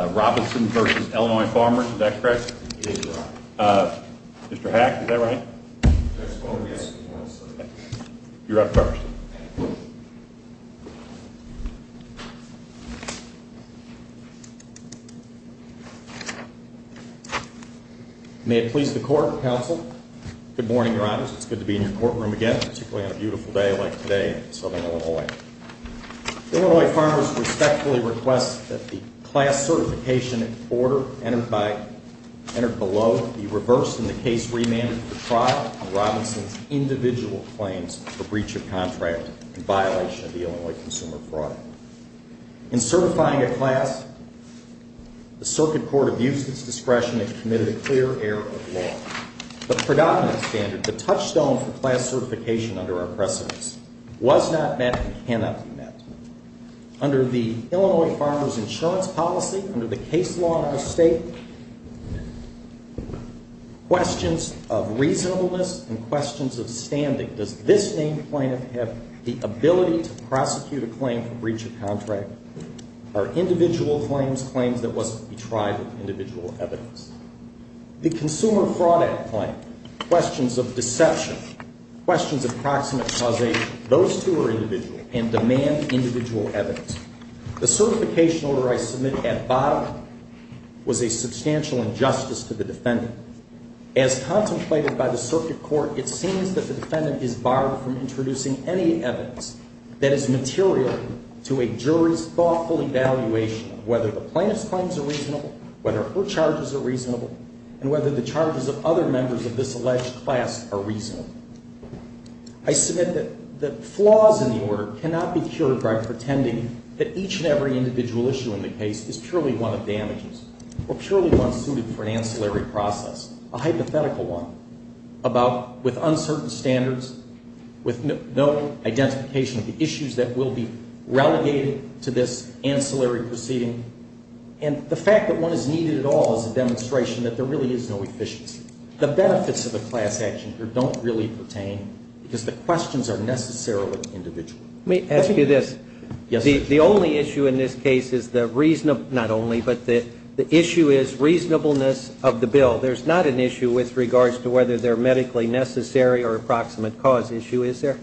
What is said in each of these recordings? Robinson v. Illinois Farmers. Is that correct? Mr. Hack, is that right? That's correct, yes. You're up first. May it please the Court, Counsel. Good morning, Your Honors. It's good to be in your courtroom again, particularly on a beautiful day like today in Southern Illinois. Illinois Farmers respectfully request that the class certification order entered below be reversed and the case remanded for trial on Robinson's individual claims for breach of contract in violation of the Illinois Consumer Fraud Act. In certifying a class, the Circuit Court abused its discretion and committed a clear error of law. The predominant standard, the touchstone for class certification under our precedence, was not met and cannot be met. Under the Illinois Farmers Insurance Policy, under the case law in our State, questions of reasonableness and questions of standing. Does this named plaintiff have the ability to prosecute a claim for breach of contract? Are individual claims claims that must be tried with individual evidence? The Consumer Fraud Act claim, questions of deception, questions of proximate causation, those two are individual and demand individual evidence. The certification order I submitted at the bottom was a substantial injustice to the defendant. As contemplated by the Circuit Court, it seems that the defendant is barred from introducing any evidence that is material to a jury's thoughtful evaluation of whether the plaintiff's claims are reasonable, whether her charges are reasonable, and whether the charges of other members of this alleged class are reasonable. I submit that the flaws in the order cannot be cured by pretending that each and every individual issue in the case is purely one of damages or purely one suited for an ancillary process, a hypothetical one, about with uncertain standards, with no identification of the issues that will be relegated to this ancillary proceeding. And the fact that one is needed at all is a demonstration that there really is no efficiency. The benefits of the class action here don't really pertain because the questions are necessarily individual. Let me ask you this. Yes, sir. The only issue in this case is the reasonable, not only, but the issue is reasonableness of the bill. There's not an issue with regards to whether they're medically necessary or a proximate cause issue, is there?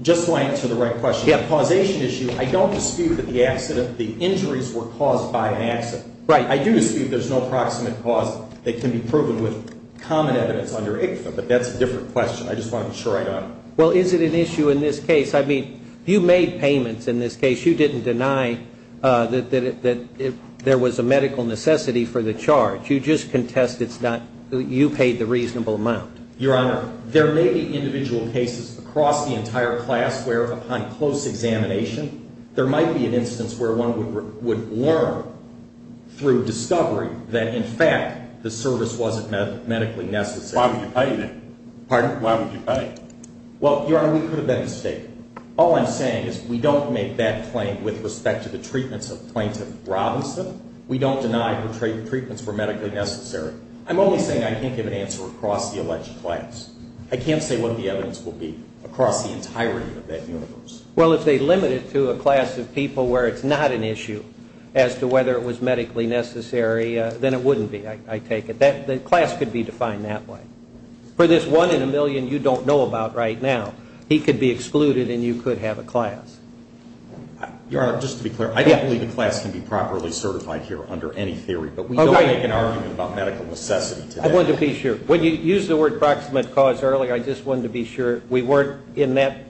Just so I answer the right question. Yeah. On the causation issue, I don't dispute that the injuries were caused by an accident. Right. I do dispute there's no proximate cause that can be proven with common evidence under ICFA, but that's a different question. I just want to be sure I got it. Well, is it an issue in this case? I mean, you made payments in this case. You didn't deny that there was a medical necessity for the charge. You just contest it's not you paid the reasonable amount. Your Honor, there may be individual cases across the entire class where, upon close examination, there might be an instance where one would learn through discovery that, in fact, the service wasn't medically necessary. Why would you pay then? Pardon? Why would you pay? Well, Your Honor, we could have been mistaken. All I'm saying is we don't make that claim with respect to the treatments of Plaintiff Robinson. We don't deny the treatments were medically necessary. I'm only saying I can't give an answer across the alleged class. I can't say what the evidence will be across the entirety of that universe. Well, if they limit it to a class of people where it's not an issue as to whether it was medically necessary, then it wouldn't be, I take it. The class could be defined that way. For this one in a million you don't know about right now, he could be excluded and you could have a class. Your Honor, just to be clear, I don't believe a class can be properly certified here under any theory. But we don't make an argument about medical necessity today. I wanted to be sure. When you used the word proximate cause earlier, I just wanted to be sure we weren't in that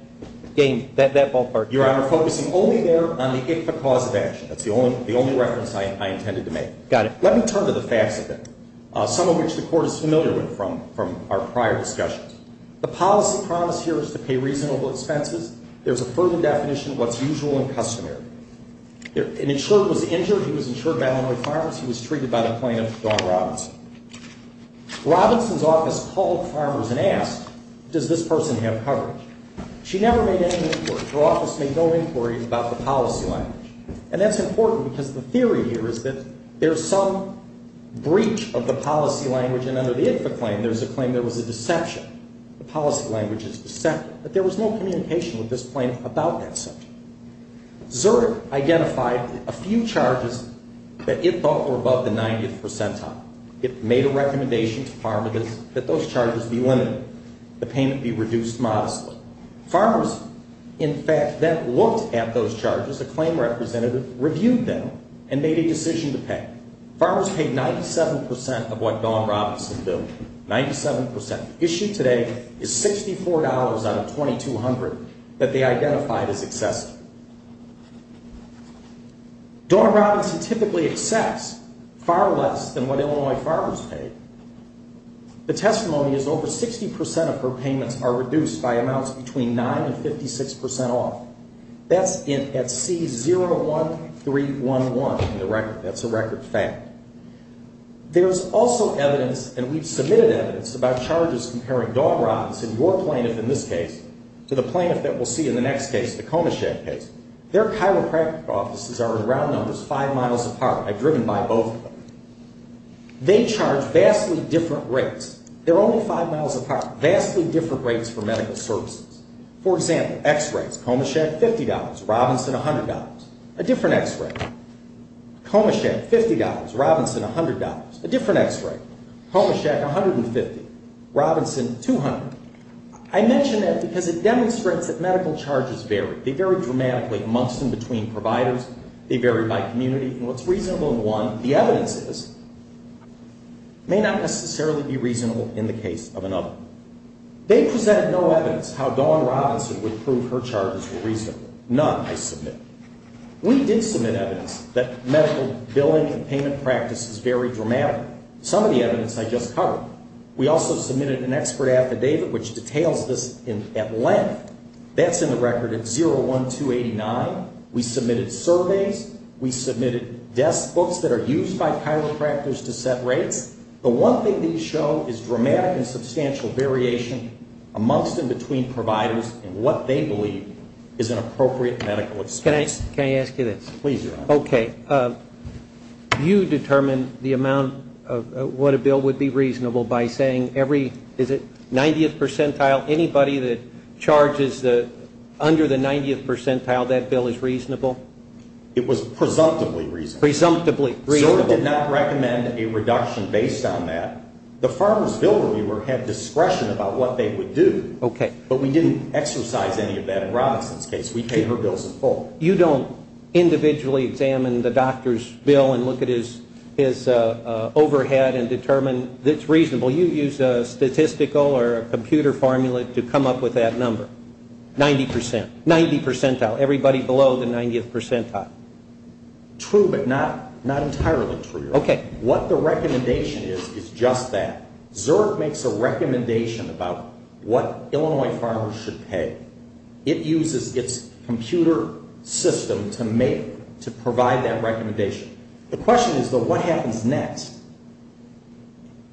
game, that ballpark. Your Honor, focusing only there on the ICFA cause of action. That's the only reference I intended to make. Got it. Let me turn to the facts of it, some of which the Court is familiar with from our prior discussions. The policy promised here is to pay reasonable expenses. There's a further definition of what's usual and customary. An insurer was injured. He was insured by Illinois Farms. He was treated by the plaintiff, Dawn Robinson. Robinson's office called Farmers and asked, does this person have coverage? She never made any inquiry. Her office made no inquiry about the policy language. And that's important because the theory here is that there's some breach of the policy language. And under the ICFA claim, there's a claim there was a deception. The policy language is deceptive. But there was no communication with this plaintiff about that subject. Zerk identified a few charges that it thought were above the 90th percentile. It made a recommendation to Farmers that those charges be limited, the payment be reduced modestly. Farmers, in fact, then looked at those charges. A claim representative reviewed them and made a decision to pay. Farmers paid 97 percent of what Dawn Robinson billed, 97 percent. Issued today is $64 out of $2,200 that they identified as excessive. Dawn Robinson typically accepts far less than what Illinois Farmers paid. The testimony is over 60 percent of her payments are reduced by amounts between 9 and 56 percent off. That's at C01311 in the record. That's a record fact. There's also evidence, and we've submitted evidence, about charges comparing Dawn Robinson, your plaintiff in this case, to the plaintiff that we'll see in the next case, the Comichet case. Their chiropractic offices are, in round numbers, five miles apart. I've driven by both of them. They charge vastly different rates. They're only five miles apart. Vastly different rates for medical services. For example, x-rays, Comichet, $50. Robinson, $100. A different x-ray. Comichet, $50. Robinson, $200. I mention that because it demonstrates that medical charges vary. They vary dramatically amongst and between providers. They vary by community. And what's reasonable in one, the evidence is, may not necessarily be reasonable in the case of another. They presented no evidence how Dawn Robinson would prove her charges were reasonable. None, I submit. We did submit evidence that medical billing and payment practices, vary dramatically. Some of the evidence I just covered. We also submitted an expert affidavit which details this at length. That's in the record at 01289. We submitted surveys. We submitted desk books that are used by chiropractors to set rates. The one thing these show is dramatic and substantial variation amongst and between providers and what they believe is an appropriate medical expense. Can I ask you this? Please, Your Honor. Okay. You determine the amount of what a bill would be reasonable by saying every, is it 90th percentile, anybody that charges under the 90th percentile, that bill is reasonable? It was presumptively reasonable. Presumptively reasonable. SILVA did not recommend a reduction based on that. The Farmers' Bill Reviewer had discretion about what they would do. Okay. But we didn't exercise any of that in Robinson's case. We paid her bills in full. So you don't individually examine the doctor's bill and look at his overhead and determine it's reasonable. You use a statistical or a computer formula to come up with that number, 90 percent, 90 percentile, everybody below the 90th percentile. True, but not entirely true. Okay. What the recommendation is is just that. Zurb makes a recommendation about what Illinois farmers should pay. It uses its computer system to make, to provide that recommendation. The question is, though, what happens next?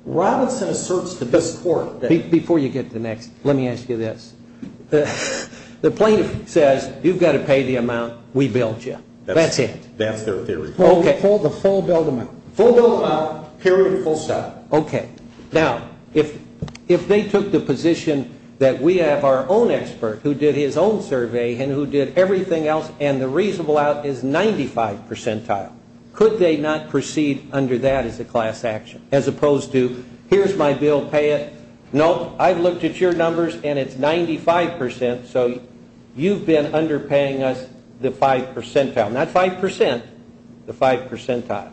Robinson asserts to this court that. Before you get to the next, let me ask you this. The plaintiff says you've got to pay the amount we billed you. That's it. That's their theory. Okay. The full billed amount. Full billed amount, period, full stop. Okay. Now, if they took the position that we have our own expert who did his own survey and who did everything else and the reasonable out is 95 percentile, could they not proceed under that as a class action? As opposed to, here's my bill, pay it. No, I've looked at your numbers and it's 95 percent, so you've been underpaying us the 5 percentile. Not 5 percent, the 5 percentile.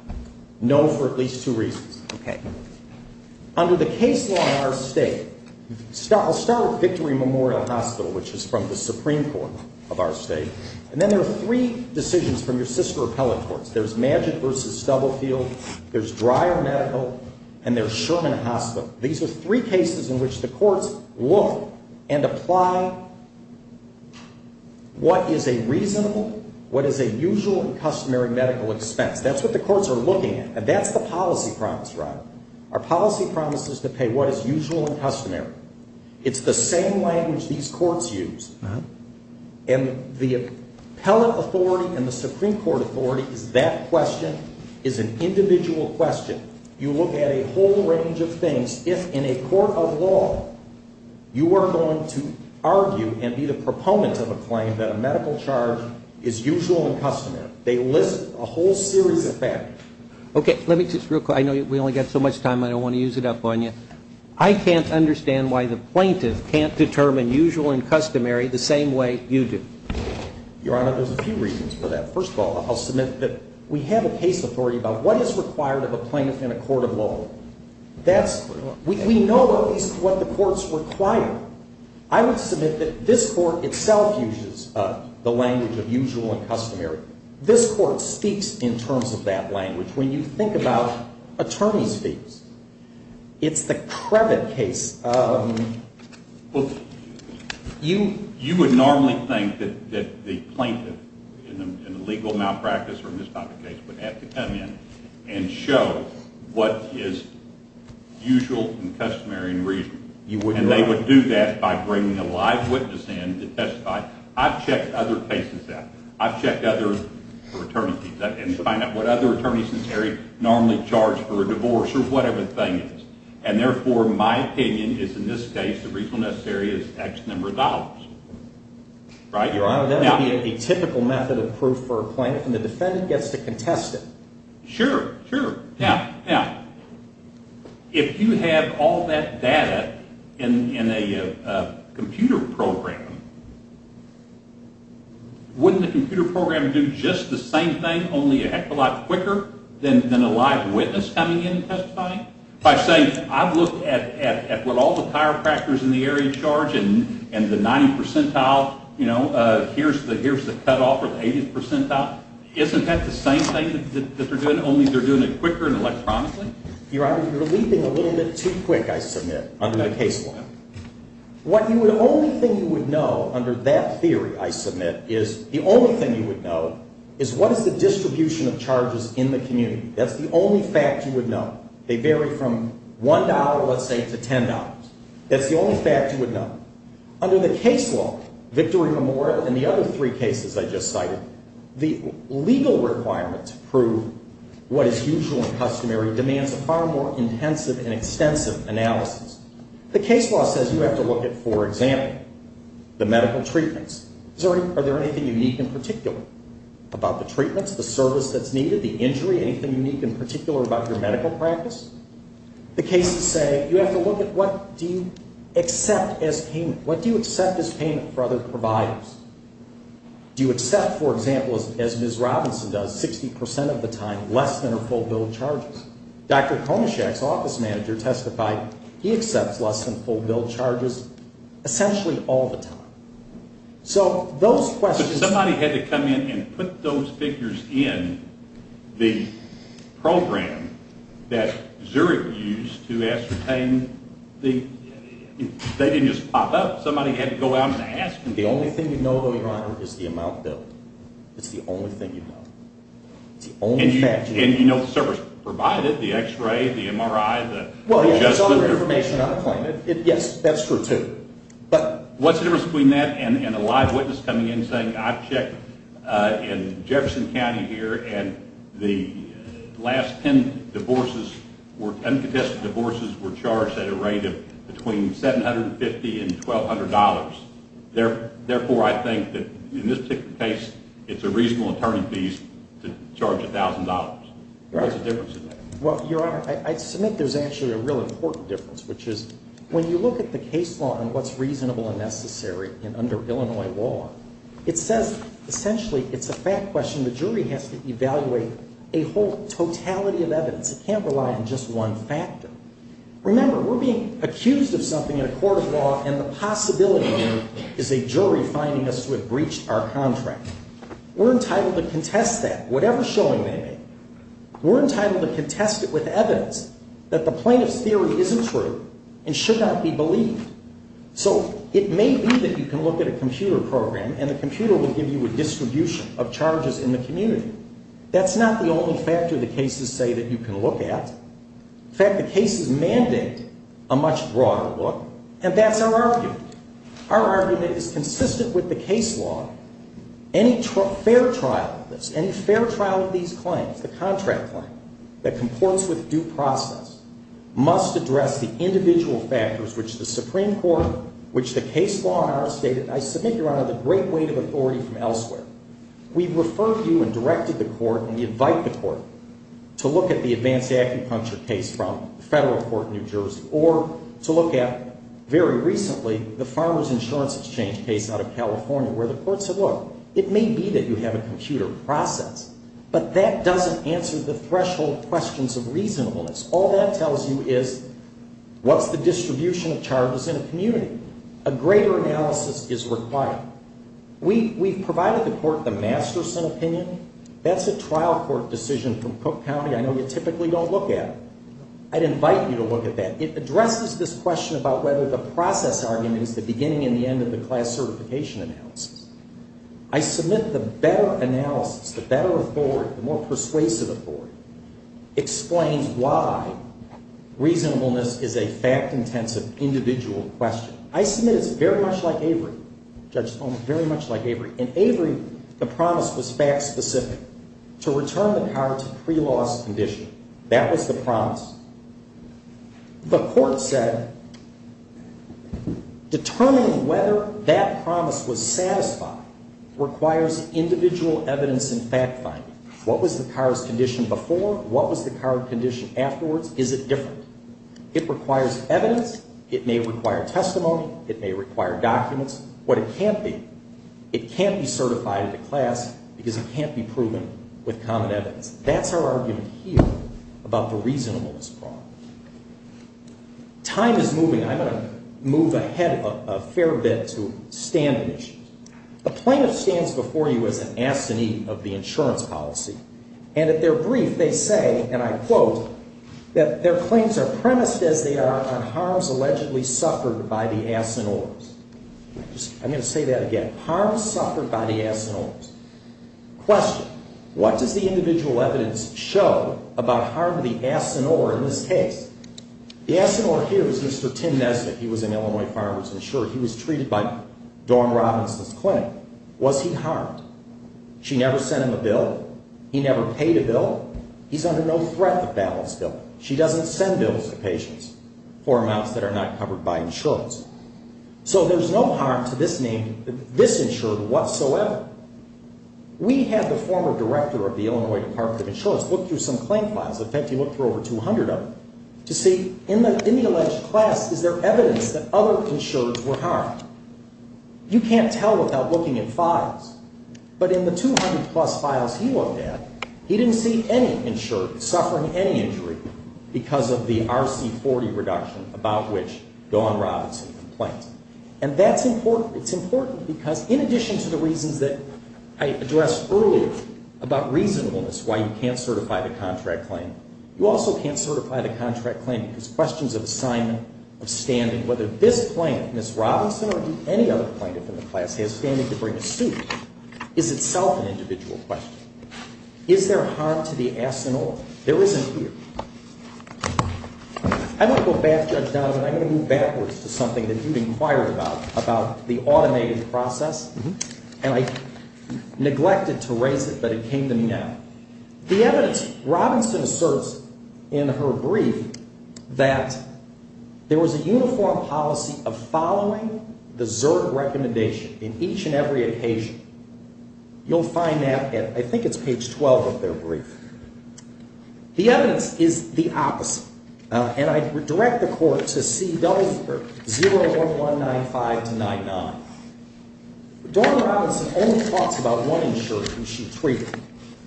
No for at least two reasons. Okay. Under the case law in our state, I'll start with Victory Memorial Hospital, which is from the Supreme Court of our state, and then there are three decisions from your sister appellate courts. There's Magic v. Stubblefield, there's Dreier Medical, and there's Sherman Hospital. These are three cases in which the courts look and apply what is a reasonable, what is a usual and customary medical expense. That's what the courts are looking at, and that's the policy promise, Robert. Our policy promise is to pay what is usual and customary. It's the same language these courts use, and the appellate authority and the Supreme Court authority is that question, is an individual question. You look at a whole range of things. If in a court of law you are going to argue and be the proponent of a claim that a medical charge is usual and customary, they list a whole series of factors. Okay. Let me just real quick. I know we only got so much time. I don't want to use it up on you. I can't understand why the plaintiff can't determine usual and customary the same way you do. Your Honor, there's a few reasons for that. First of all, I'll submit that we have a case authority about what is required of a plaintiff in a court of law. We know what the courts require. I would submit that this court itself uses the language of usual and customary. This court speaks in terms of that language. When you think about attorney's fees, it's the Krevit case. You would normally think that the plaintiff in a legal malpractice or misconduct case would have to come in and show what is usual and customary and reasonable. You would not. And they would do that by bringing a live witness in to testify. I've checked other cases after. I've checked other attorney fees and find out what other attorneys in this area normally charge for a divorce or whatever thing it is. And therefore, my opinion is in this case the reason necessary is X number of dollars. Your Honor, that would be a typical method of proof for a plaintiff and the defendant gets to contest it. Sure, sure. Now, if you have all that data in a computer program, wouldn't the computer program do just the same thing, only a heck of a lot quicker than a live witness coming in and testifying? If I say I've looked at what all the chiropractors in the area charge and the 90th percentile, here's the cutoff or the 80th percentile, isn't that the same thing that they're doing, only they're doing it quicker and electronically? Your Honor, you're leaping a little bit too quick, I submit, under the case law. The only thing you would know under that theory, I submit, is the only thing you would know is what is the distribution of charges in the community. That's the only fact you would know. They vary from $1, let's say, to $10. That's the only fact you would know. Under the case law, Victory Memorial and the other three cases I just cited, the legal requirement to prove what is usual and customary demands a far more intensive and extensive analysis. The case law says you have to look at, for example, the medical treatments. Are there anything unique in particular about the treatments, the service that's needed, the injury, anything unique in particular about your medical practice? The case would say you have to look at what do you accept as payment. What do you accept as payment for other providers? Do you accept, for example, as Ms. Robinson does, 60 percent of the time, less than her full bill of charges? Dr. Konishak's office manager testified he accepts less than full bill of charges essentially all the time. Somebody had to come in and put those figures in the program that Zurich used to ascertain. They didn't just pop up. Somebody had to go out and ask. The only thing you know, Your Honor, is the amount billed. It's the only thing you know. It's the only fact you know. And you know the service provided, the x-ray, the MRI, the adjustment. Well, it's all the information on the claim. Yes, that's true, too. But what's the difference between that and a live witness coming in saying, I've checked in Jefferson County here, and the last 10 divorces were uncontested divorces were charged at a rate of between $750 and $1,200. Therefore, I think that in this particular case, it's a reasonable attorney's fees to charge $1,000. What's the difference in that? Well, Your Honor, I submit there's actually a real important difference, which is when you look at the case law and what's reasonable and necessary under Illinois law, it says essentially it's a fact question. The jury has to evaluate a whole totality of evidence. It can't rely on just one factor. Remember, we're being accused of something in a court of law, and the possibility is a jury finding us to have breached our contract. We're entitled to contest that, whatever showing they make. We're entitled to contest it with evidence that the plaintiff's theory isn't true and should not be believed. So it may be that you can look at a computer program, and the computer will give you a distribution of charges in the community. That's not the only factor the cases say that you can look at. In fact, the cases mandate a much broader look, and that's our argument. Our argument is consistent with the case law. Any fair trial of this, any fair trial of these claims, the contract claim that comports with due process, must address the individual factors which the Supreme Court, which the case law in our state, and I submit, Your Honor, the great weight of authority from elsewhere. We've referred you and directed the court and invite the court to look at the advanced acupuncture case from the federal court in New Jersey or to look at, very recently, the Farmer's Insurance Exchange case out of California where the court said, look, it may be that you have a computer process, but that doesn't answer the threshold questions of reasonableness. All that tells you is what's the distribution of charges in a community? A greater analysis is required. We've provided the court the Masterson opinion. That's a trial court decision from Cook County I know you typically don't look at. I'd invite you to look at that. It addresses this question about whether the process argument is the beginning and the end of the class certification analysis. I submit the better analysis, the better authority, the more persuasive authority, explains why reasonableness is a fact-intensive individual question. I submit it's very much like Avery. Judge Stone, very much like Avery. In Avery, the promise was fact-specific, to return the card to pre-loss condition. That was the promise. The court said determining whether that promise was satisfied requires individual evidence and fact-finding. What was the card's condition before? What was the card condition afterwards? Is it different? It requires evidence. It may require testimony. It may require documents. What it can't be, it can't be certified into class because it can't be proven with common evidence. That's our argument here about the reasonableness problem. Time is moving. I'm going to move ahead a fair bit to standard issues. A plaintiff stands before you as an assinee of the insurance policy. And at their brief, they say, and I quote, that their claims are premised as they are on harms allegedly suffered by the assenors. I'm going to say that again. Harms suffered by the assenors. Question. What does the individual evidence show about harm to the assenor in this case? The assenor here is Mr. Tim Nesbitt. He was an Illinois Farmers Insurance. He was treated by Dawn Robinson's clinic. Was he harmed? She never sent him a bill. He never paid a bill. He's under no threat of balance bill. She doesn't send bills to patients for amounts that are not covered by insurance. So there's no harm to this insured whatsoever. We had the former director of the Illinois Department of Insurance look through some claim files. In fact, he looked through over 200 of them to see in the alleged class, is there evidence that other insureds were harmed? You can't tell without looking at files. But in the 200 plus files he looked at, he didn't see any insured suffering any injury because of the RC40 reduction about which Dawn Robinson complained. And that's important. It's important because in addition to the reasons that I addressed earlier about reasonableness, why you can't certify the contract claim, you also can't certify the contract claim because questions of assignment, of standing, whether this plaintiff, Ms. Robinson, or any other plaintiff in the class has standing to bring a suit, is itself an individual question. Is there harm to the ass and all? There isn't here. I'm going to go back, Judge Donovan. I'm going to move backwards to something that you've inquired about, about the automated process. And I neglected to raise it, but it came to me now. The evidence, Robinson asserts in her brief that there was a uniform policy of following the Zerg recommendation in each and every occasion. You'll find that at, I think it's page 12 of their brief. The evidence is the opposite. And I direct the court to see 01195 to 99. Donovan Robinson only talks about one insurer who she treated,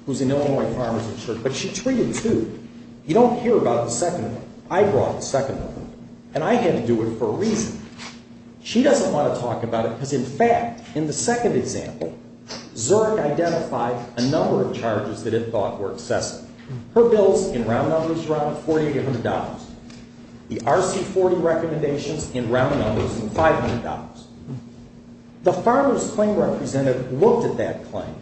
who's an Illinois Farmers insurer, but she treated two. You don't hear about the second one. I brought the second one, and I had to do it for a reason. She doesn't want to talk about it because, in fact, in the second example, Zerg identified a number of charges that it thought were excessive. Her bills in round numbers, around $4,800. The RC40 recommendations in round numbers, $500. The Farmers claim representative looked at that claim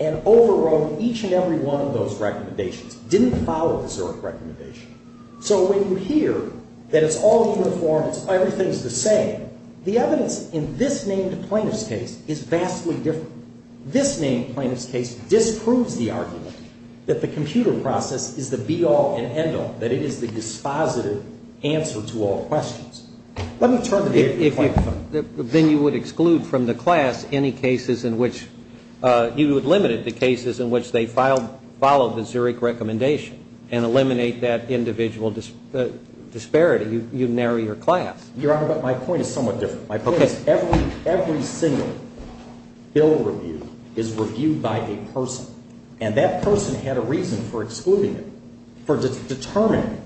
and overrode each and every one of those recommendations, didn't follow the Zerg recommendation. So when you hear that it's all uniform, everything's the same, the evidence in this named plaintiff's case is vastly different. This named plaintiff's case disproves the argument that the computer process is the be-all and end-all, that it is the dispositive answer to all questions. Let me turn to the AP claim. Then you would exclude from the class any cases in which you would limit it to cases in which they followed the Zerg recommendation and eliminate that individual disparity. You narrow your class. Your Honor, but my point is somewhat different. My point is every single bill reviewed is reviewed by a person, and that person had a reason for excluding it, for determining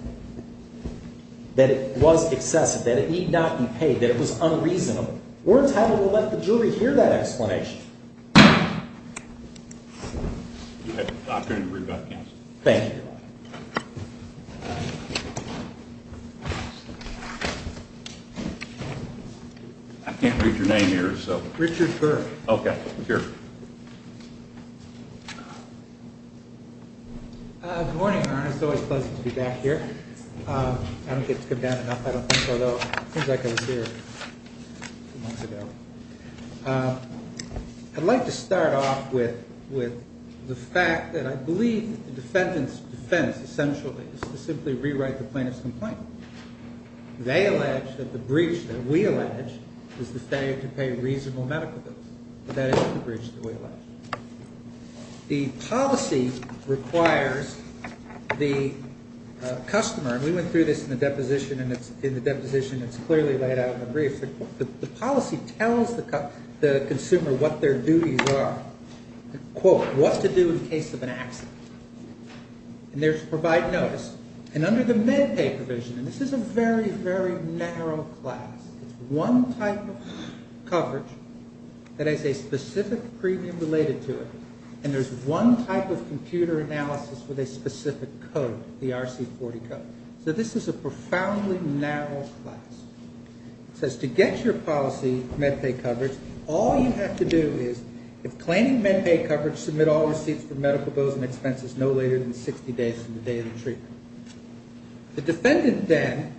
that it was excessive, that it need not be paid, that it was unreasonable. We're entitled to let the jury hear that explanation. I can't read your name here. Richard Burke. Okay. Good morning, Your Honor. It's always pleasant to be back here. I don't get to come down enough, I don't think, although it seems like I was here a few months ago. I'd like to start off with the fact that I believe the defendant's defense, essentially, is to simply rewrite the plaintiff's complaint. They allege that the breach that we allege is the failure to pay reasonable medical bills, but that isn't the breach that we allege. The policy requires the customer, and we went through this in the deposition, and it's in the deposition, it's clearly laid out in the brief. The policy tells the consumer what their duties are. Quote, what to do in case of an accident. And there's provide notice. And under the MedPay provision, and this is a very, very narrow class, it's one type of coverage that has a specific premium related to it, and there's one type of computer analysis with a specific code, the RC40 code. So this is a profoundly narrow class. It says to get your policy MedPay coverage, all you have to do is, if claiming MedPay coverage, submit all receipts for medical bills and expenses no later than 60 days from the day of the treatment. The defendant, then,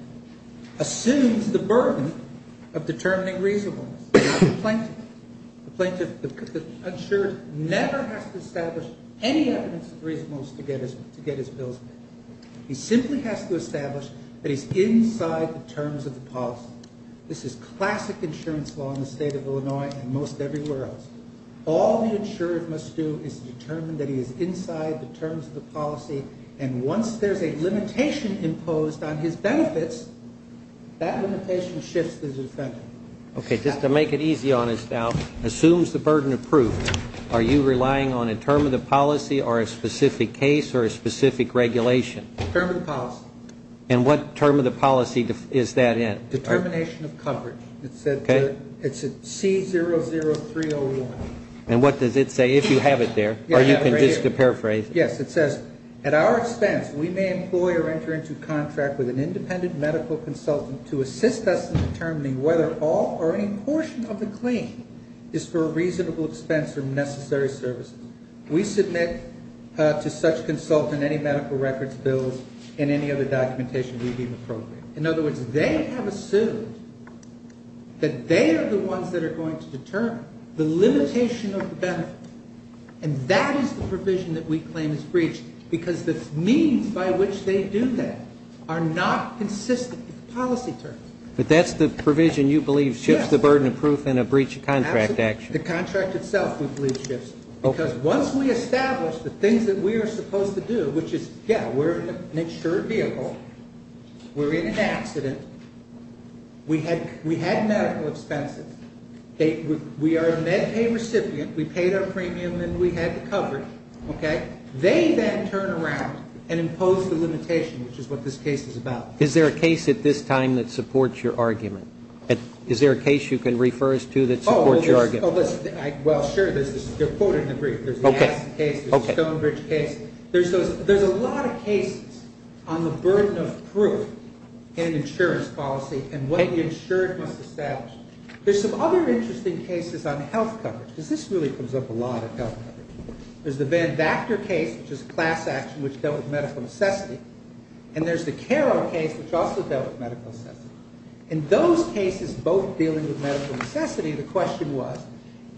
assumes the burden of determining reasonableness. The plaintiff, the insured, never has to establish any evidence of reasonableness to get his bills paid. He simply has to establish that he's inside the terms of the policy. This is classic insurance law in the state of Illinois and most everywhere else. All the insured must do is determine that he is inside the terms of the policy, and once there's a limitation imposed on his benefits, that limitation shifts the defendant. Okay, just to make it easy on us now, assumes the burden of proof, are you relying on a term of the policy or a specific case or a specific regulation? Term of the policy. And what term of the policy is that in? Determination of coverage. It's at C00301. And what does it say, if you have it there? Or you can just paraphrase it. Yes, it says, at our expense, we may employ or enter into contract with an independent medical consultant to assist us in determining whether all or any portion of the claim is for a reasonable expense or necessary services. We submit to such consultant any medical records bills and any other documentation we deem appropriate. In other words, they have assumed that they are the ones that are going to determine the limitation of the benefit, and that is the provision that we claim is breached because the means by which they do that are not consistent with policy terms. But that's the provision you believe shifts the burden of proof in a breach of contract action. Absolutely. The contract itself, we believe, shifts. Because once we establish the things that we are supposed to do, which is, yes, we're an insured vehicle, we're in an accident, we had medical expenses, we are a MedPay recipient, we paid our premium and we had the coverage. Okay? They then turn around and impose the limitation, which is what this case is about. Is there a case at this time that supports your argument? Is there a case you can refer us to that supports your argument? Oh, well, sure. They're quoted in the brief. There's the Aspen case, the Stonebridge case. There's a lot of cases on the burden of proof in an insurance policy and what the insured must establish. There's some other interesting cases on health coverage, because this really comes up a lot in health coverage. There's the Van Vactor case, which is a class action which dealt with medical necessity, and there's the Carroll case, which also dealt with medical necessity. In those cases, both dealing with medical necessity, the question was,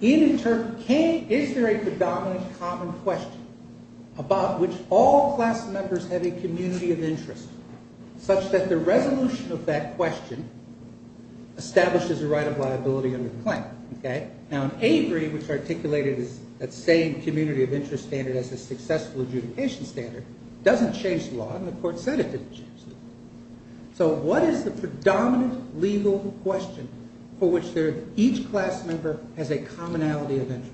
is there a predominant common question about which all class members have a community of interest, such that the resolution of that question establishes a right of liability under the claim? Okay? Now, Avery, which articulated that same community of interest standard as a successful adjudication standard, doesn't change the law, and the court said it didn't change the law. So what is the predominant legal question for which each class member has a commonality of interest?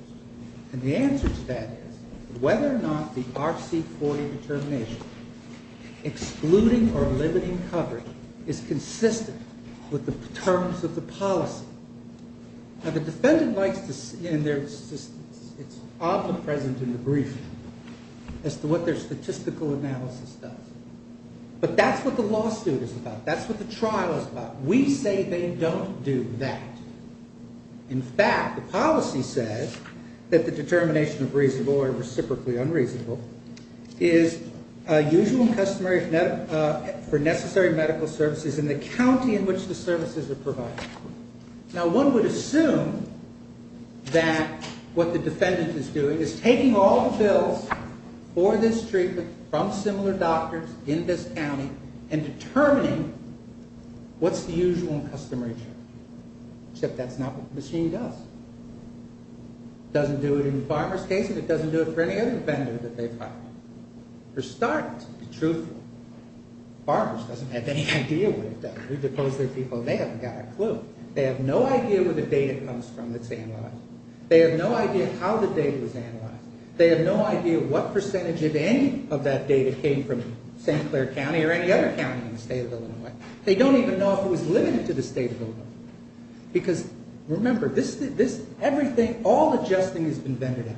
And the answer to that is whether or not the RC40 determination, excluding or limiting coverage, is consistent with the terms of the policy. Now, the defendant likes to see, and it's omnipresent in the brief, as to what their statistical analysis does. But that's what the lawsuit is about. That's what the trial is about. We say they don't do that. In fact, the policy says that the determination of reasonable or reciprocally unreasonable is usual and customary for necessary medical services in the county in which the services are provided. Now, one would assume that what the defendant is doing is taking all the bills for this treatment from similar doctors in this county and determining what's the usual and customary treatment. Except that's not what the machine does. It doesn't do it in the farmer's case, and it doesn't do it for any other vendor that they've hired. For starters, to be truthful, farmers doesn't have any idea what it does. We've deposed their people, and they haven't got a clue. They have no idea where the data comes from that's analyzed. They have no idea how the data was analyzed. They have no idea what percentage of any of that data came from St. Clair County or any other county in the state of Illinois. They don't even know if it was limited to the state of Illinois. Because remember, all the adjusting has been vented out.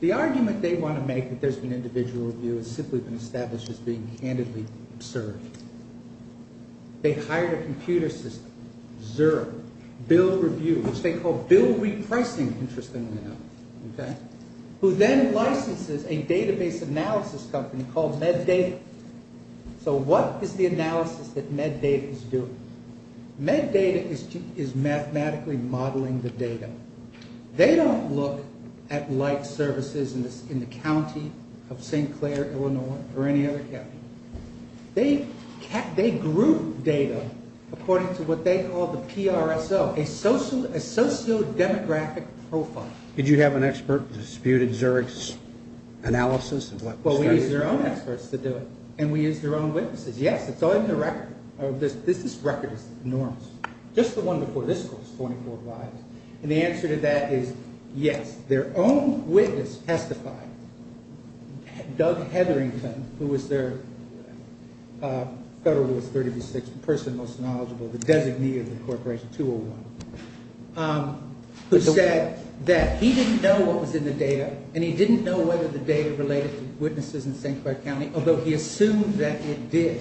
The argument they want to make that there's an individual review has simply been established as being candidly absurd. They hired a computer system, ZURB, Bill Review, which they call Bill Repricing, interestingly enough, who then licenses a database analysis company called MedData. So what is the analysis that MedData is doing? MedData is mathematically modeling the data. They don't look at light services in the county of St. Clair, Illinois, or any other county. They group data according to what they call the PRSO, a sociodemographic profile. Did you have an expert dispute at ZURB's analysis of what was done? Well, we used their own experts to do it, and we used their own witnesses. Yes, it's all in the record. This record is enormous. Just the one before this was 44 lives. And the answer to that is yes, their own witness testified. Doug Hetherington, who was their Federal Rules 36 person most knowledgeable, the designee of the Corporation 201, who said that he didn't know what was in the data, and he didn't know whether the data related to witnesses in St. Clair County, although he assumed that it did.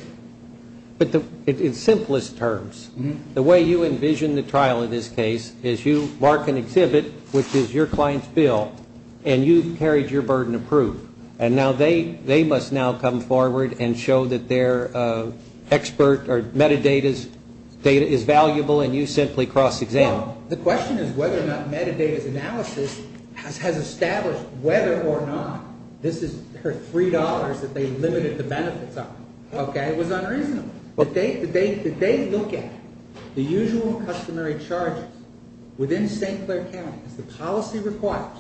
But in simplest terms, the way you envision the trial in this case is you mark an exhibit, which is your client's bill, and you've carried your burden of proof. And now they must now come forward and show that their expert or metadata's data is valuable, and you simply cross-examine. Well, the question is whether or not metadata's analysis has established whether or not this is their $3 that they limited the benefits of. Okay? It was unreasonable. But they look at the usual customary charges within St. Clair County as the policy requires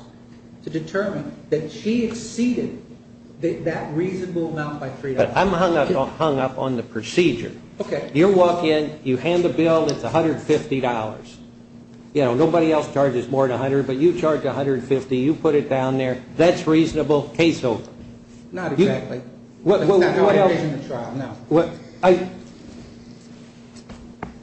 to determine that she exceeded that reasonable amount by $3. But I'm hung up on the procedure. Okay. You walk in, you hand the bill, it's $150. You know, nobody else charges more than $100, but you charge $150, you put it down there, that's reasonable, case over. Not exactly. That's not how I envision the trial, no.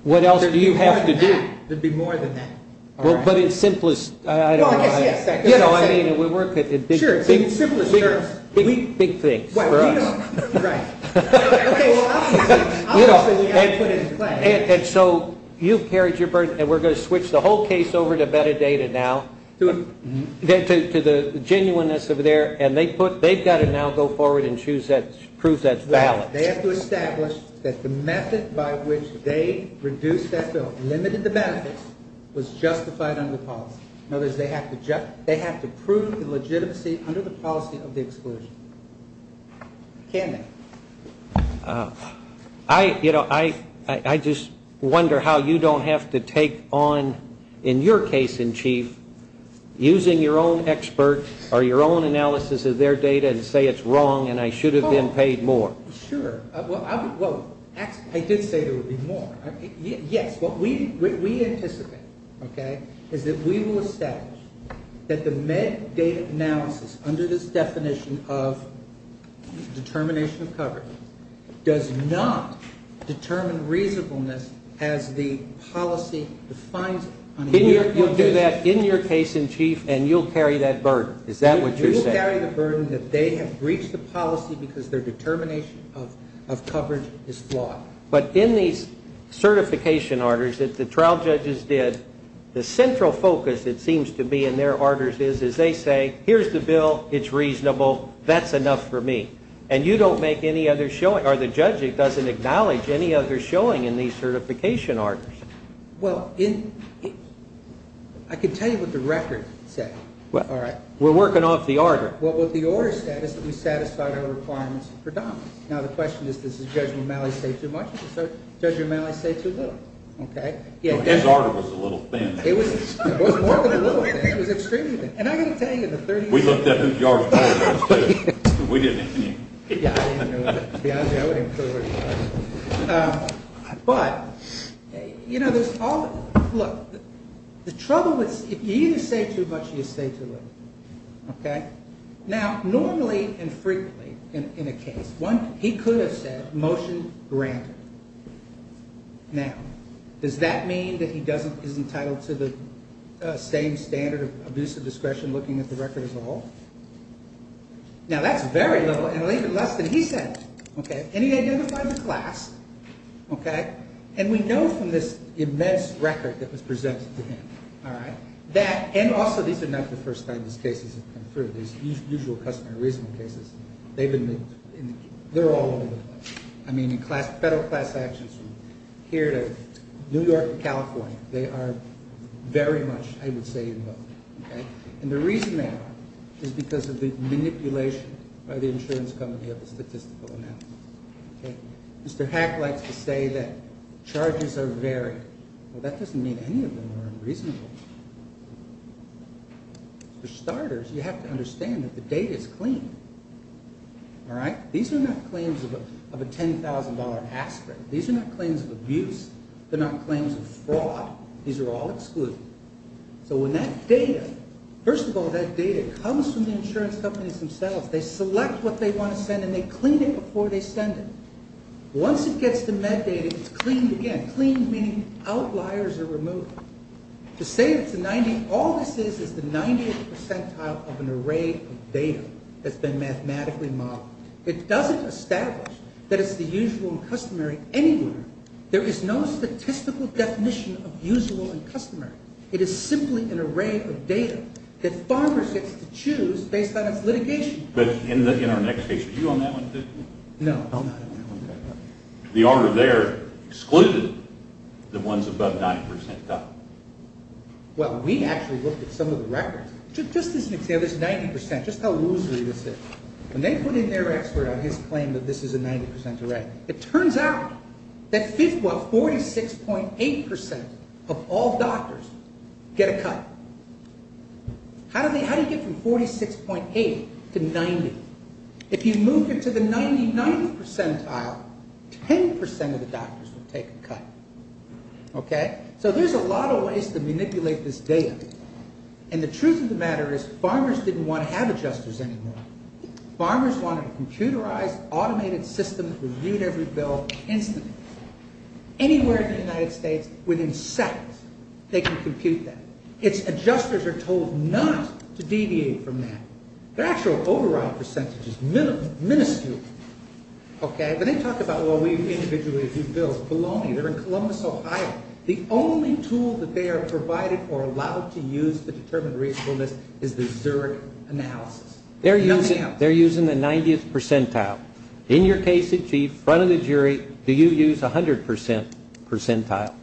What else do you have to do? There'd be more than that. But in simplest, I don't know. Well, I guess, yes. Sure, in simplest terms. Big things for us. Right. Well, obviously we've got to put it in play. And so you've carried your burden, and we're going to switch the whole case over to metadata now, to the genuineness of there, and they've got to now go forward and prove that's valid. They have to establish that the method by which they reduced that bill, limited the benefits, was justified under policy. In other words, they have to prove the legitimacy under the policy of the exclusion. Can they? I, you know, I just wonder how you don't have to take on, in your case in chief, using your own expert or your own analysis of their data and say it's wrong and I should have been paid more. Sure. Well, I did say there would be more. Yes, what we anticipate, okay, is that we will establish that the metadata analysis under this definition of determination of coverage does not determine reasonableness as the policy defines it. You'll do that in your case in chief, and you'll carry that burden. Is that what you're saying? You'll carry the burden that they have breached the policy because their determination of coverage is flawed. But in these certification orders that the trial judges did, the central focus, it seems to be, in their orders is they say, here's the bill, it's reasonable, that's enough for me. And you don't make any other showing, or the judge doesn't acknowledge any other showing in these certification orders. Well, I can tell you what the record said. We're working off the order. Well, what the order said is that we satisfied our requirements for dollars. Now, the question is, does Judge O'Malley say too much, or does Judge O'Malley say too little? His order was a little thin. It was more than a little thin. It was extremely thin. And I've got to tell you, in the 30 years... We looked at whose yard of court it was, too. We didn't. Yeah, I didn't know either. To be honest with you, I wouldn't have heard what he said. But, you know, there's all the... Look, the trouble is if you either say too much or you say too little. Now, normally and frequently in a case, he could have said, motion granted. Now, does that mean that he is entitled to the same standard of abusive discretion looking at the record as a whole? Now, that's very little, and even less than he said. And he identified the class. And we know from this immense record that was presented to him that... These usual customer reason cases, they've been... They're all over the place. I mean, in class... Federal class actions from here to New York to California, they are very much, I would say, involved. And the reason they are is because of the manipulation by the insurance company of the statistical analysis. Mr. Hack likes to say that charges are varied. Well, that doesn't mean any of them are unreasonable. For starters, you have to understand that the data is clean. All right? These are not claims of a $10,000 aspirin. These are not claims of abuse. They're not claims of fraud. These are all excluded. So when that data... First of all, that data comes from the insurance companies themselves. They select what they want to send, and they clean it before they send it. Once it gets to med data, it's cleaned again. Cleaned meaning outliers are removed. To say it's a 90... All this is is the 90th percentile of an array of data that's been mathematically modeled. It doesn't establish that it's the usual and customary anywhere. There is no statistical definition of usual and customary. It is simply an array of data that farmers get to choose based on its litigation. But in our next case, were you on that one too? No, I'm not on that one. The order there excluded the ones above 90 percentile. Well, we actually looked at some of the records. Just as an example, this 90 percent, just how losery this is. When they put in their expert on his claim that this is a 90 percent array, it turns out that 46.8 percent of all doctors get a cut. How do you get from 46.8 to 90? If you move it to the 90 percentile, 10 percent of the doctors will take a cut. Okay? So there's a lot of ways to manipulate this data. And the truth of the matter is farmers didn't want to have adjusters anymore. Farmers wanted a computerized, automated system that reviewed every bill instantly. Anywhere in the United States, within seconds, they can compute that. Its adjusters are told not to deviate from that. Their actual overall percentage is minuscule. Okay? But they talk about, well, we individually review bills. Bologna. They're in Columbus, Ohio. The only tool that they are provided or allowed to use to determine reasonableness is the Zurich analysis. They're using the 90th percentile. In your case, Chief, in front of the jury, do you use 100 percent percentile?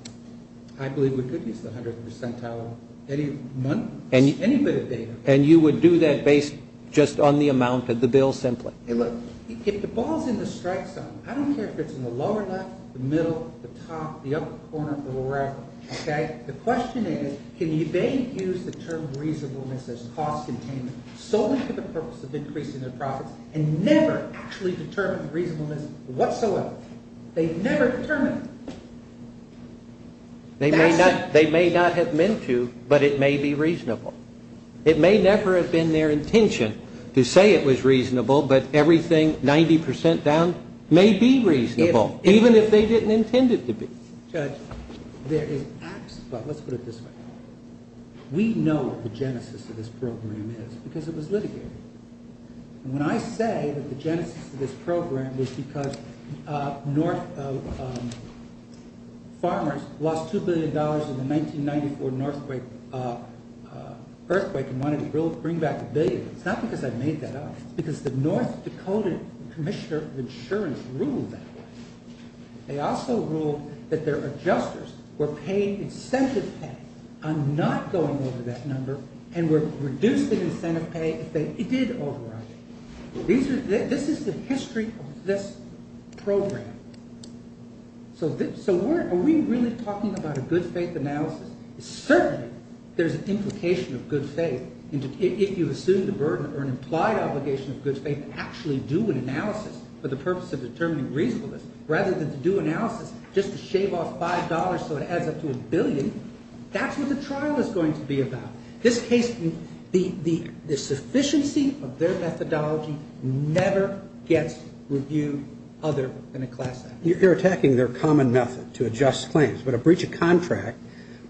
I believe we could use the 100th percentile of any month, any bit of data. And you would do that based just on the amount of the bill simply. Hey, look, if the ball's in the strike zone, I don't care if it's in the lower left, the middle, the top, the upper corner, or the right. Okay? The question is, can they use the term reasonableness as cost containment solely for the purpose of increasing their profits and never actually determine reasonableness whatsoever? They've never determined it. They may not have meant to, but it may be reasonable. It may never have been their intention to say it was reasonable, but everything 90 percent down may be reasonable, even if they didn't intend it to be. Judge, there is absolutely, let's put it this way. We know what the genesis of this program is because it was litigated. And when I say that the genesis of this program was because farmers lost $2 billion in the 1994 earthquake and wanted to bring back a billion, it's not because I made that up. It's because the North Dakota Commissioner of Insurance ruled that way. They also ruled that their adjusters were paying incentive pay on not going over that number and were reducing incentive pay if they did override it. This is the history of this program. So are we really talking about a good faith analysis? Certainly there's an implication of good faith if you assume the burden or an implied obligation of good faith to actually do an analysis for the purpose of determining reasonableness rather than to do analysis just to shave off $5 so it adds up to a billion. That's what the trial is going to be about. This case, the sufficiency of their methodology never gets reviewed other than a class act. You're attacking their common method to adjust claims. But a breach of contract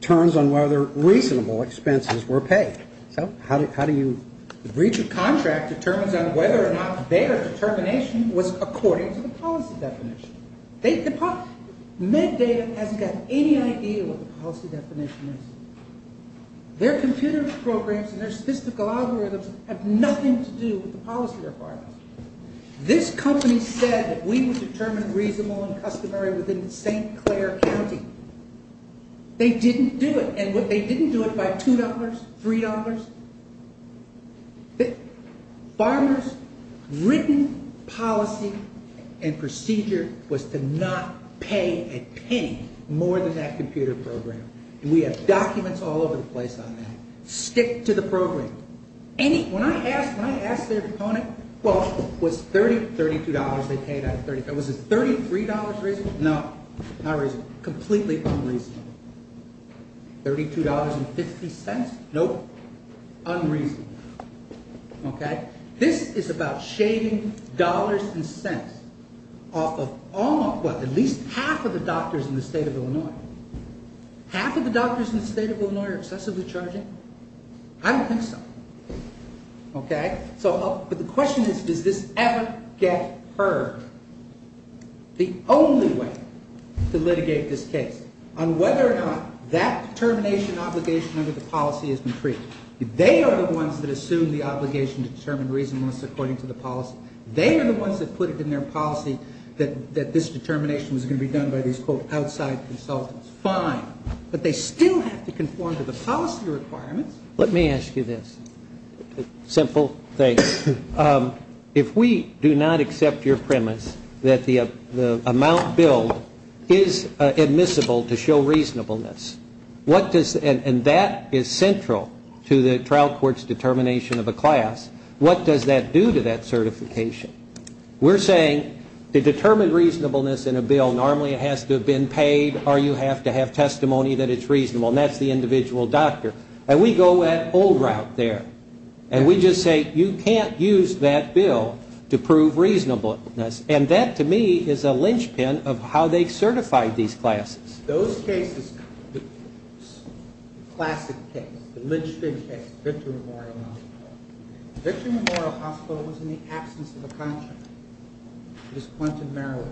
turns on whether reasonable expenses were paid. So how do you... The breach of contract determines on whether or not their determination was according to the policy definition. MedData hasn't got any idea what the policy definition is. Their computer programs and their statistical algorithms have nothing to do with the policy requirements. This company said that we would determine reasonable and customary within St. Clair County. They didn't do it. And they didn't do it by $2, $3. Farmers' written policy and procedure was to not pay a penny more than that computer program. And we have documents all over the place on that. Stick to the program. When I asked their opponent, well, was $32 they paid out of $30? Was it $33 reasonable? No, not reasonable. Completely unreasonable. $32.50? Nope. Unreasonable. Okay? This is about shaving dollars and cents off of almost what? At least half of the doctors in the state of Illinois. Half of the doctors in the state of Illinois are excessively charging? I don't think so. Okay? But the question is, does this ever get heard? The only way to litigate this case on whether or not that determination obligation under the policy is intrigued, they are the ones that assume the obligation to determine reasonableness according to the policy. They are the ones that put it in their policy that this determination was going to be done by these, quote, outside consultants. Fine. But they still have to conform to the policy requirements. Let me ask you this. Simple thing. If we do not accept your premise that the amount billed is admissible to show reasonableness, and that is central to the trial court's determination of a class, what does that do to that certification? We're saying to determine reasonableness in a bill, normally it has to have been paid or you have to have testimony that it's reasonable, and that's the individual doctor. And we go that old route there. And we just say, you can't use that bill to prove reasonableness. And that, to me, is a linchpin of how they certify these classes. Those cases, the classic case, the linchpin case, Victor Memorial Hospital. Victor Memorial Hospital was in the absence of a contract. It was Quentin Merrill.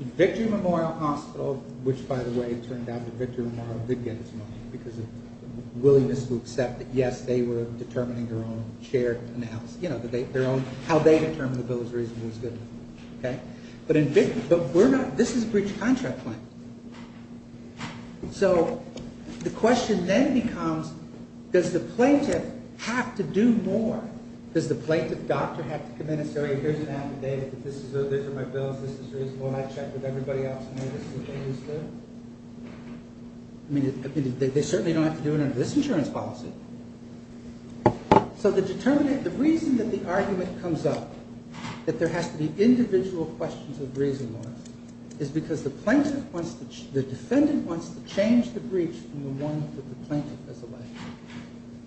Victor Memorial Hospital, which, by the way, it turned out that Victor Memorial did get its money because of willingness to accept that, yes, they were determining their own share. You know, how they determined the bill was reasonable was good enough. But this is a breach of contract claim. So the question then becomes, does the plaintiff have to do more? Does the plaintiff doctor have to come in and say, here's an affidavit, these are my bills, this is reasonable, and I checked with everybody else and this is what they understood? I mean, they certainly don't have to do it under this insurance policy. So the reason that the argument comes up that there has to be individual questions of reasonableness is because the defendant wants to change the breach from the one that the plaintiff has alleged.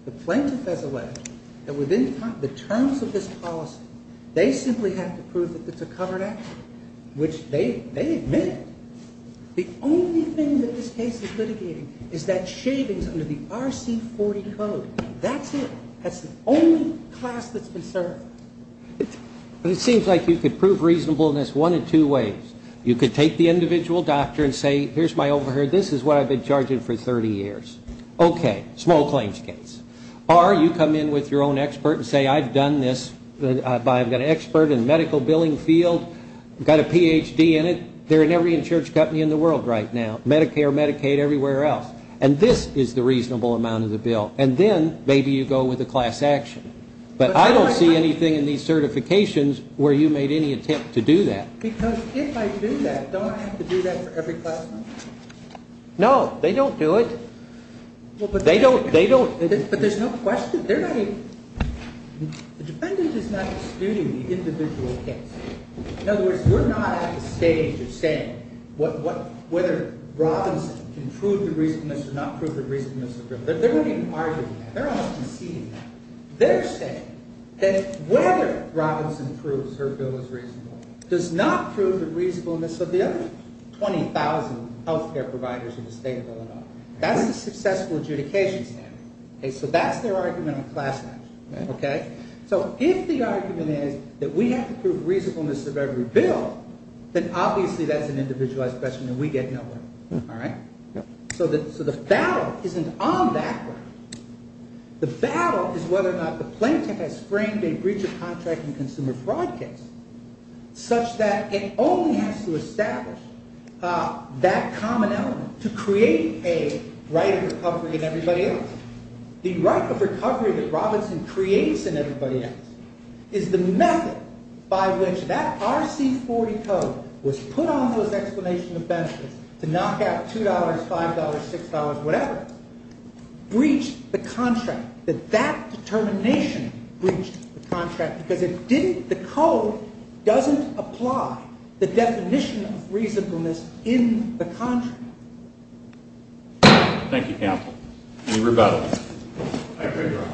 The plaintiff has alleged that within the terms of this policy, they simply have to prove that it's a covered act, which they admit. The only thing that this case is litigating is that shavings under the RC40 code. That's it. That's the only class that's been served. But it seems like you could prove reasonableness one of two ways. You could take the individual doctor and say, here's my overhead. This is what I've been charging for 30 years. Okay. Small claims case. Or you come in with your own expert and say, I've done this, I've got an expert in the medical billing field, got a Ph.D. in it. They're in every insurance company in the world right now. Medicare, Medicaid, everywhere else. And this is the reasonable amount of the bill. And then maybe you go with a class action. But I don't see anything in these certifications where you made any attempt to do that. Because if I do that, don't I have to do that for every class action? No, they don't do it. They don't. But there's no question. The defendant is not disputing the individual case. In other words, we're not at the stage of saying whether Robinson can prove the reasonableness or not prove the reasonableness of the bill. They're not even arguing that. They're not even seeing that. They're saying that whether Robinson proves her bill is reasonable does not prove the reasonableness of the other 20,000 healthcare providers in the state of Illinois. That's the successful adjudication standard. So that's their argument on class action. Okay. So if the argument is that we have to prove reasonableness of every bill, then obviously that's an individualized question and we get nowhere. All right? So the battle isn't on that one. The battle is whether or not the plaintiff has framed a breach of contract and consumer fraud case such that it only has to establish that common element to create a right of recovery in everybody else. The right of recovery that Robinson creates in everybody else is the method by which that RC40 code was put on those explanation of benefits to knock out $2, $5, $6, whatever, breached the contract. That that determination breached the contract because it didn't – the code doesn't apply the definition of reasonableness in the contract. Thank you, Counsel. The rebuttal. I agree, Your Honor.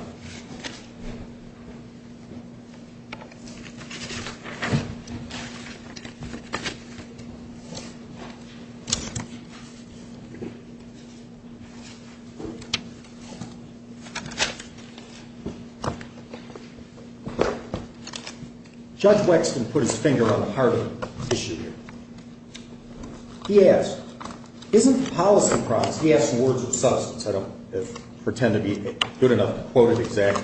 Judge Wexton put his finger on the heart of the issue here. He asked, isn't the policy promise – he asked words of substance. I don't pretend to be good enough to quote it exactly.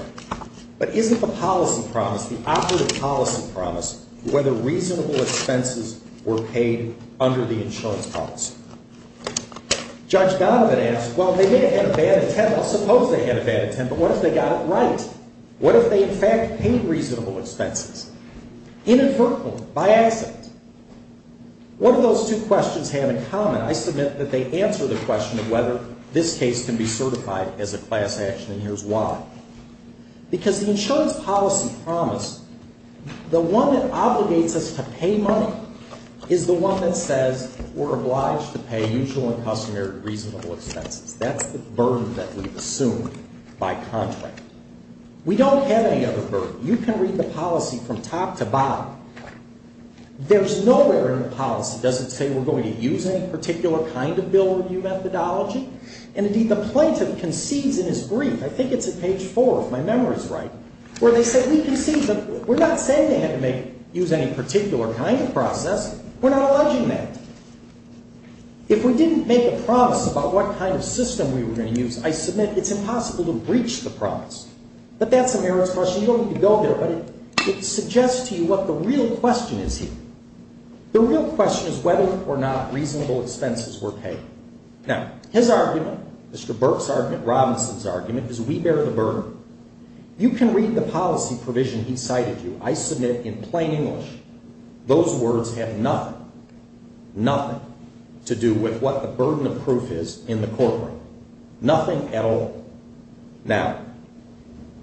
But isn't the policy promise, the operative policy promise, whether reasonable expenses were paid under the insurance policy? Judge Donovan asked, well, they may have had a bad intent. I suppose they had a bad intent, but what if they got it right? What if they, in fact, paid reasonable expenses? Inadvertently, by accident. What do those two questions have in common? I submit that they answer the question of whether this case can be certified as a class action, and here's why. Because the insurance policy promise, the one that obligates us to pay money is the one that says we're obliged to pay usual and customary reasonable expenses. That's the burden that we've assumed by contract. We don't have any other burden. You can read the policy from top to bottom. There's nowhere in the policy that doesn't say we're going to use any particular kind of bill review methodology. And, indeed, the plaintiff concedes in his brief – I think it's at page 4 if my memory is right – where they say we concede that we're not saying they had to use any particular kind of process. We're not alleging that. If we didn't make a promise about what kind of system we were going to use, I submit it's impossible to breach the promise. But that's a merits question. You don't need to go there, but it suggests to you what the real question is here. The real question is whether or not reasonable expenses were paid. Now, his argument, Mr. Burks' argument, Robinson's argument is we bear the burden. You can read the policy provision he cited to you. I submit in plain English those words have nothing – nothing – to do with what the burden of proof is in the courtroom. Nothing at all. Now,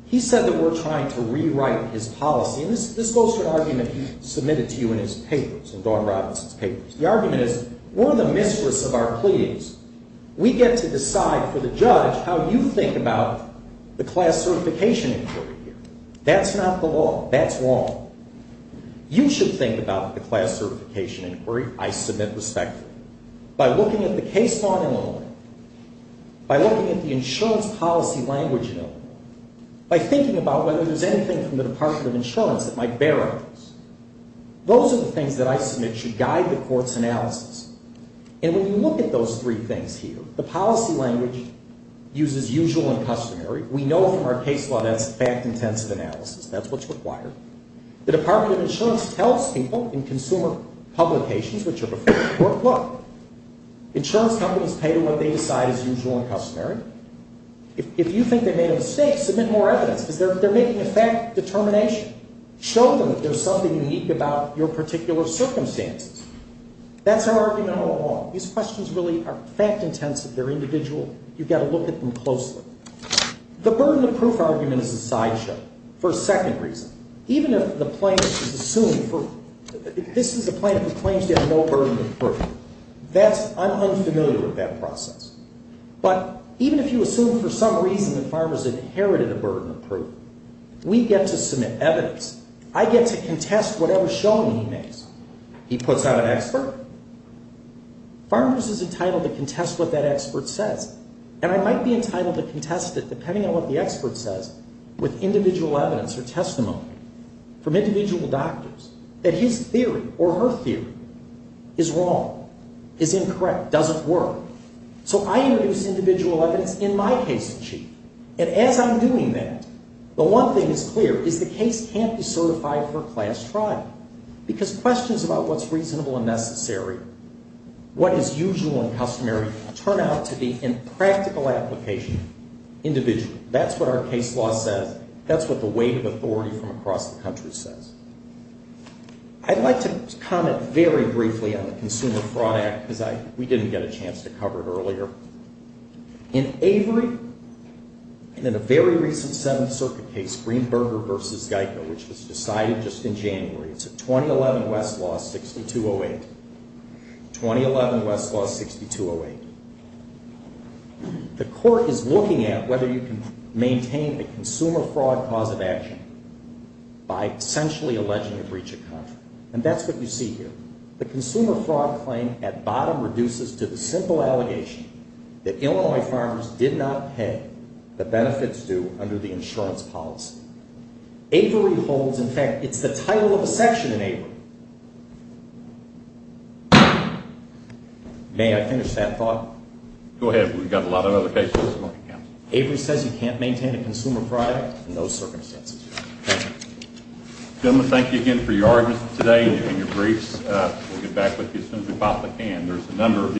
he said that we're trying to rewrite his policy, and this goes to an argument he submitted to you in his papers, in Dawn Robinson's papers. The argument is we're in the mistress of our pleadings. We get to decide for the judge how you think about the class certification inquiry here. That's not the law. That's wrong. You should think about the class certification inquiry. I submit respectfully. By looking at the case law in Illinois, by looking at the insurance policy language in Illinois, by thinking about whether there's anything from the Department of Insurance that might bear on this. Those are the things that I submit should guide the court's analysis. And when you look at those three things here, the policy language uses usual and customary. We know from our case law that's fact-intensive analysis. That's what's required. The Department of Insurance tells people in consumer publications which are before the court, look, insurance companies pay to what they decide is usual and customary. If you think they made a mistake, submit more evidence because they're making a fact determination. Show them that there's something unique about your particular circumstances. That's our argument all along. These questions really are fact-intensive. They're individual. You've got to look at them closely. The burden of proof argument is a sideshow for a second reason. Even if the plaintiff is assumed for, if this is a plaintiff who claims to have no burden of proof, that's, I'm unfamiliar with that process. But even if you assume for some reason that Farmers inherited a burden of proof, we get to submit evidence. I get to contest whatever showing he makes. He puts out an expert. Farmers is entitled to contest what that expert says. And I might be entitled to contest it depending on what the expert says with individual evidence or testimony from individual doctors, that his theory or her theory is wrong, is incorrect, doesn't work. So I introduce individual evidence in my case sheet. And as I'm doing that, the one thing that's clear is the case can't be certified for class trial because questions about what's reasonable and necessary, what is usual and customary turn out to be in practical application individual. That's what our case law says. That's what the weight of authority from across the country says. I'd like to comment very briefly on the Consumer Fraud Act because we didn't get a chance to cover it earlier. In Avery and in a very recent Seventh Circuit case, Greenberger v. Geico, which was decided just in January, it's a 2011 West law 6208, 2011 West law 6208. The court is looking at whether you can maintain the consumer fraud cause of action by essentially alleging a breach of contract. And that's what you see here. The consumer fraud claim at bottom reduces to the simple allegation that Illinois farmers did not pay the benefits due under the insurance policy. Avery holds, in fact, it's the title of a section in Avery. May I finish that thought? Go ahead. We've got a lot of other cases. Avery says you can't maintain a consumer fraud in those circumstances. Gentlemen, thank you again for your arguments today and your briefs. We'll get back with you as soon as we've popped the can.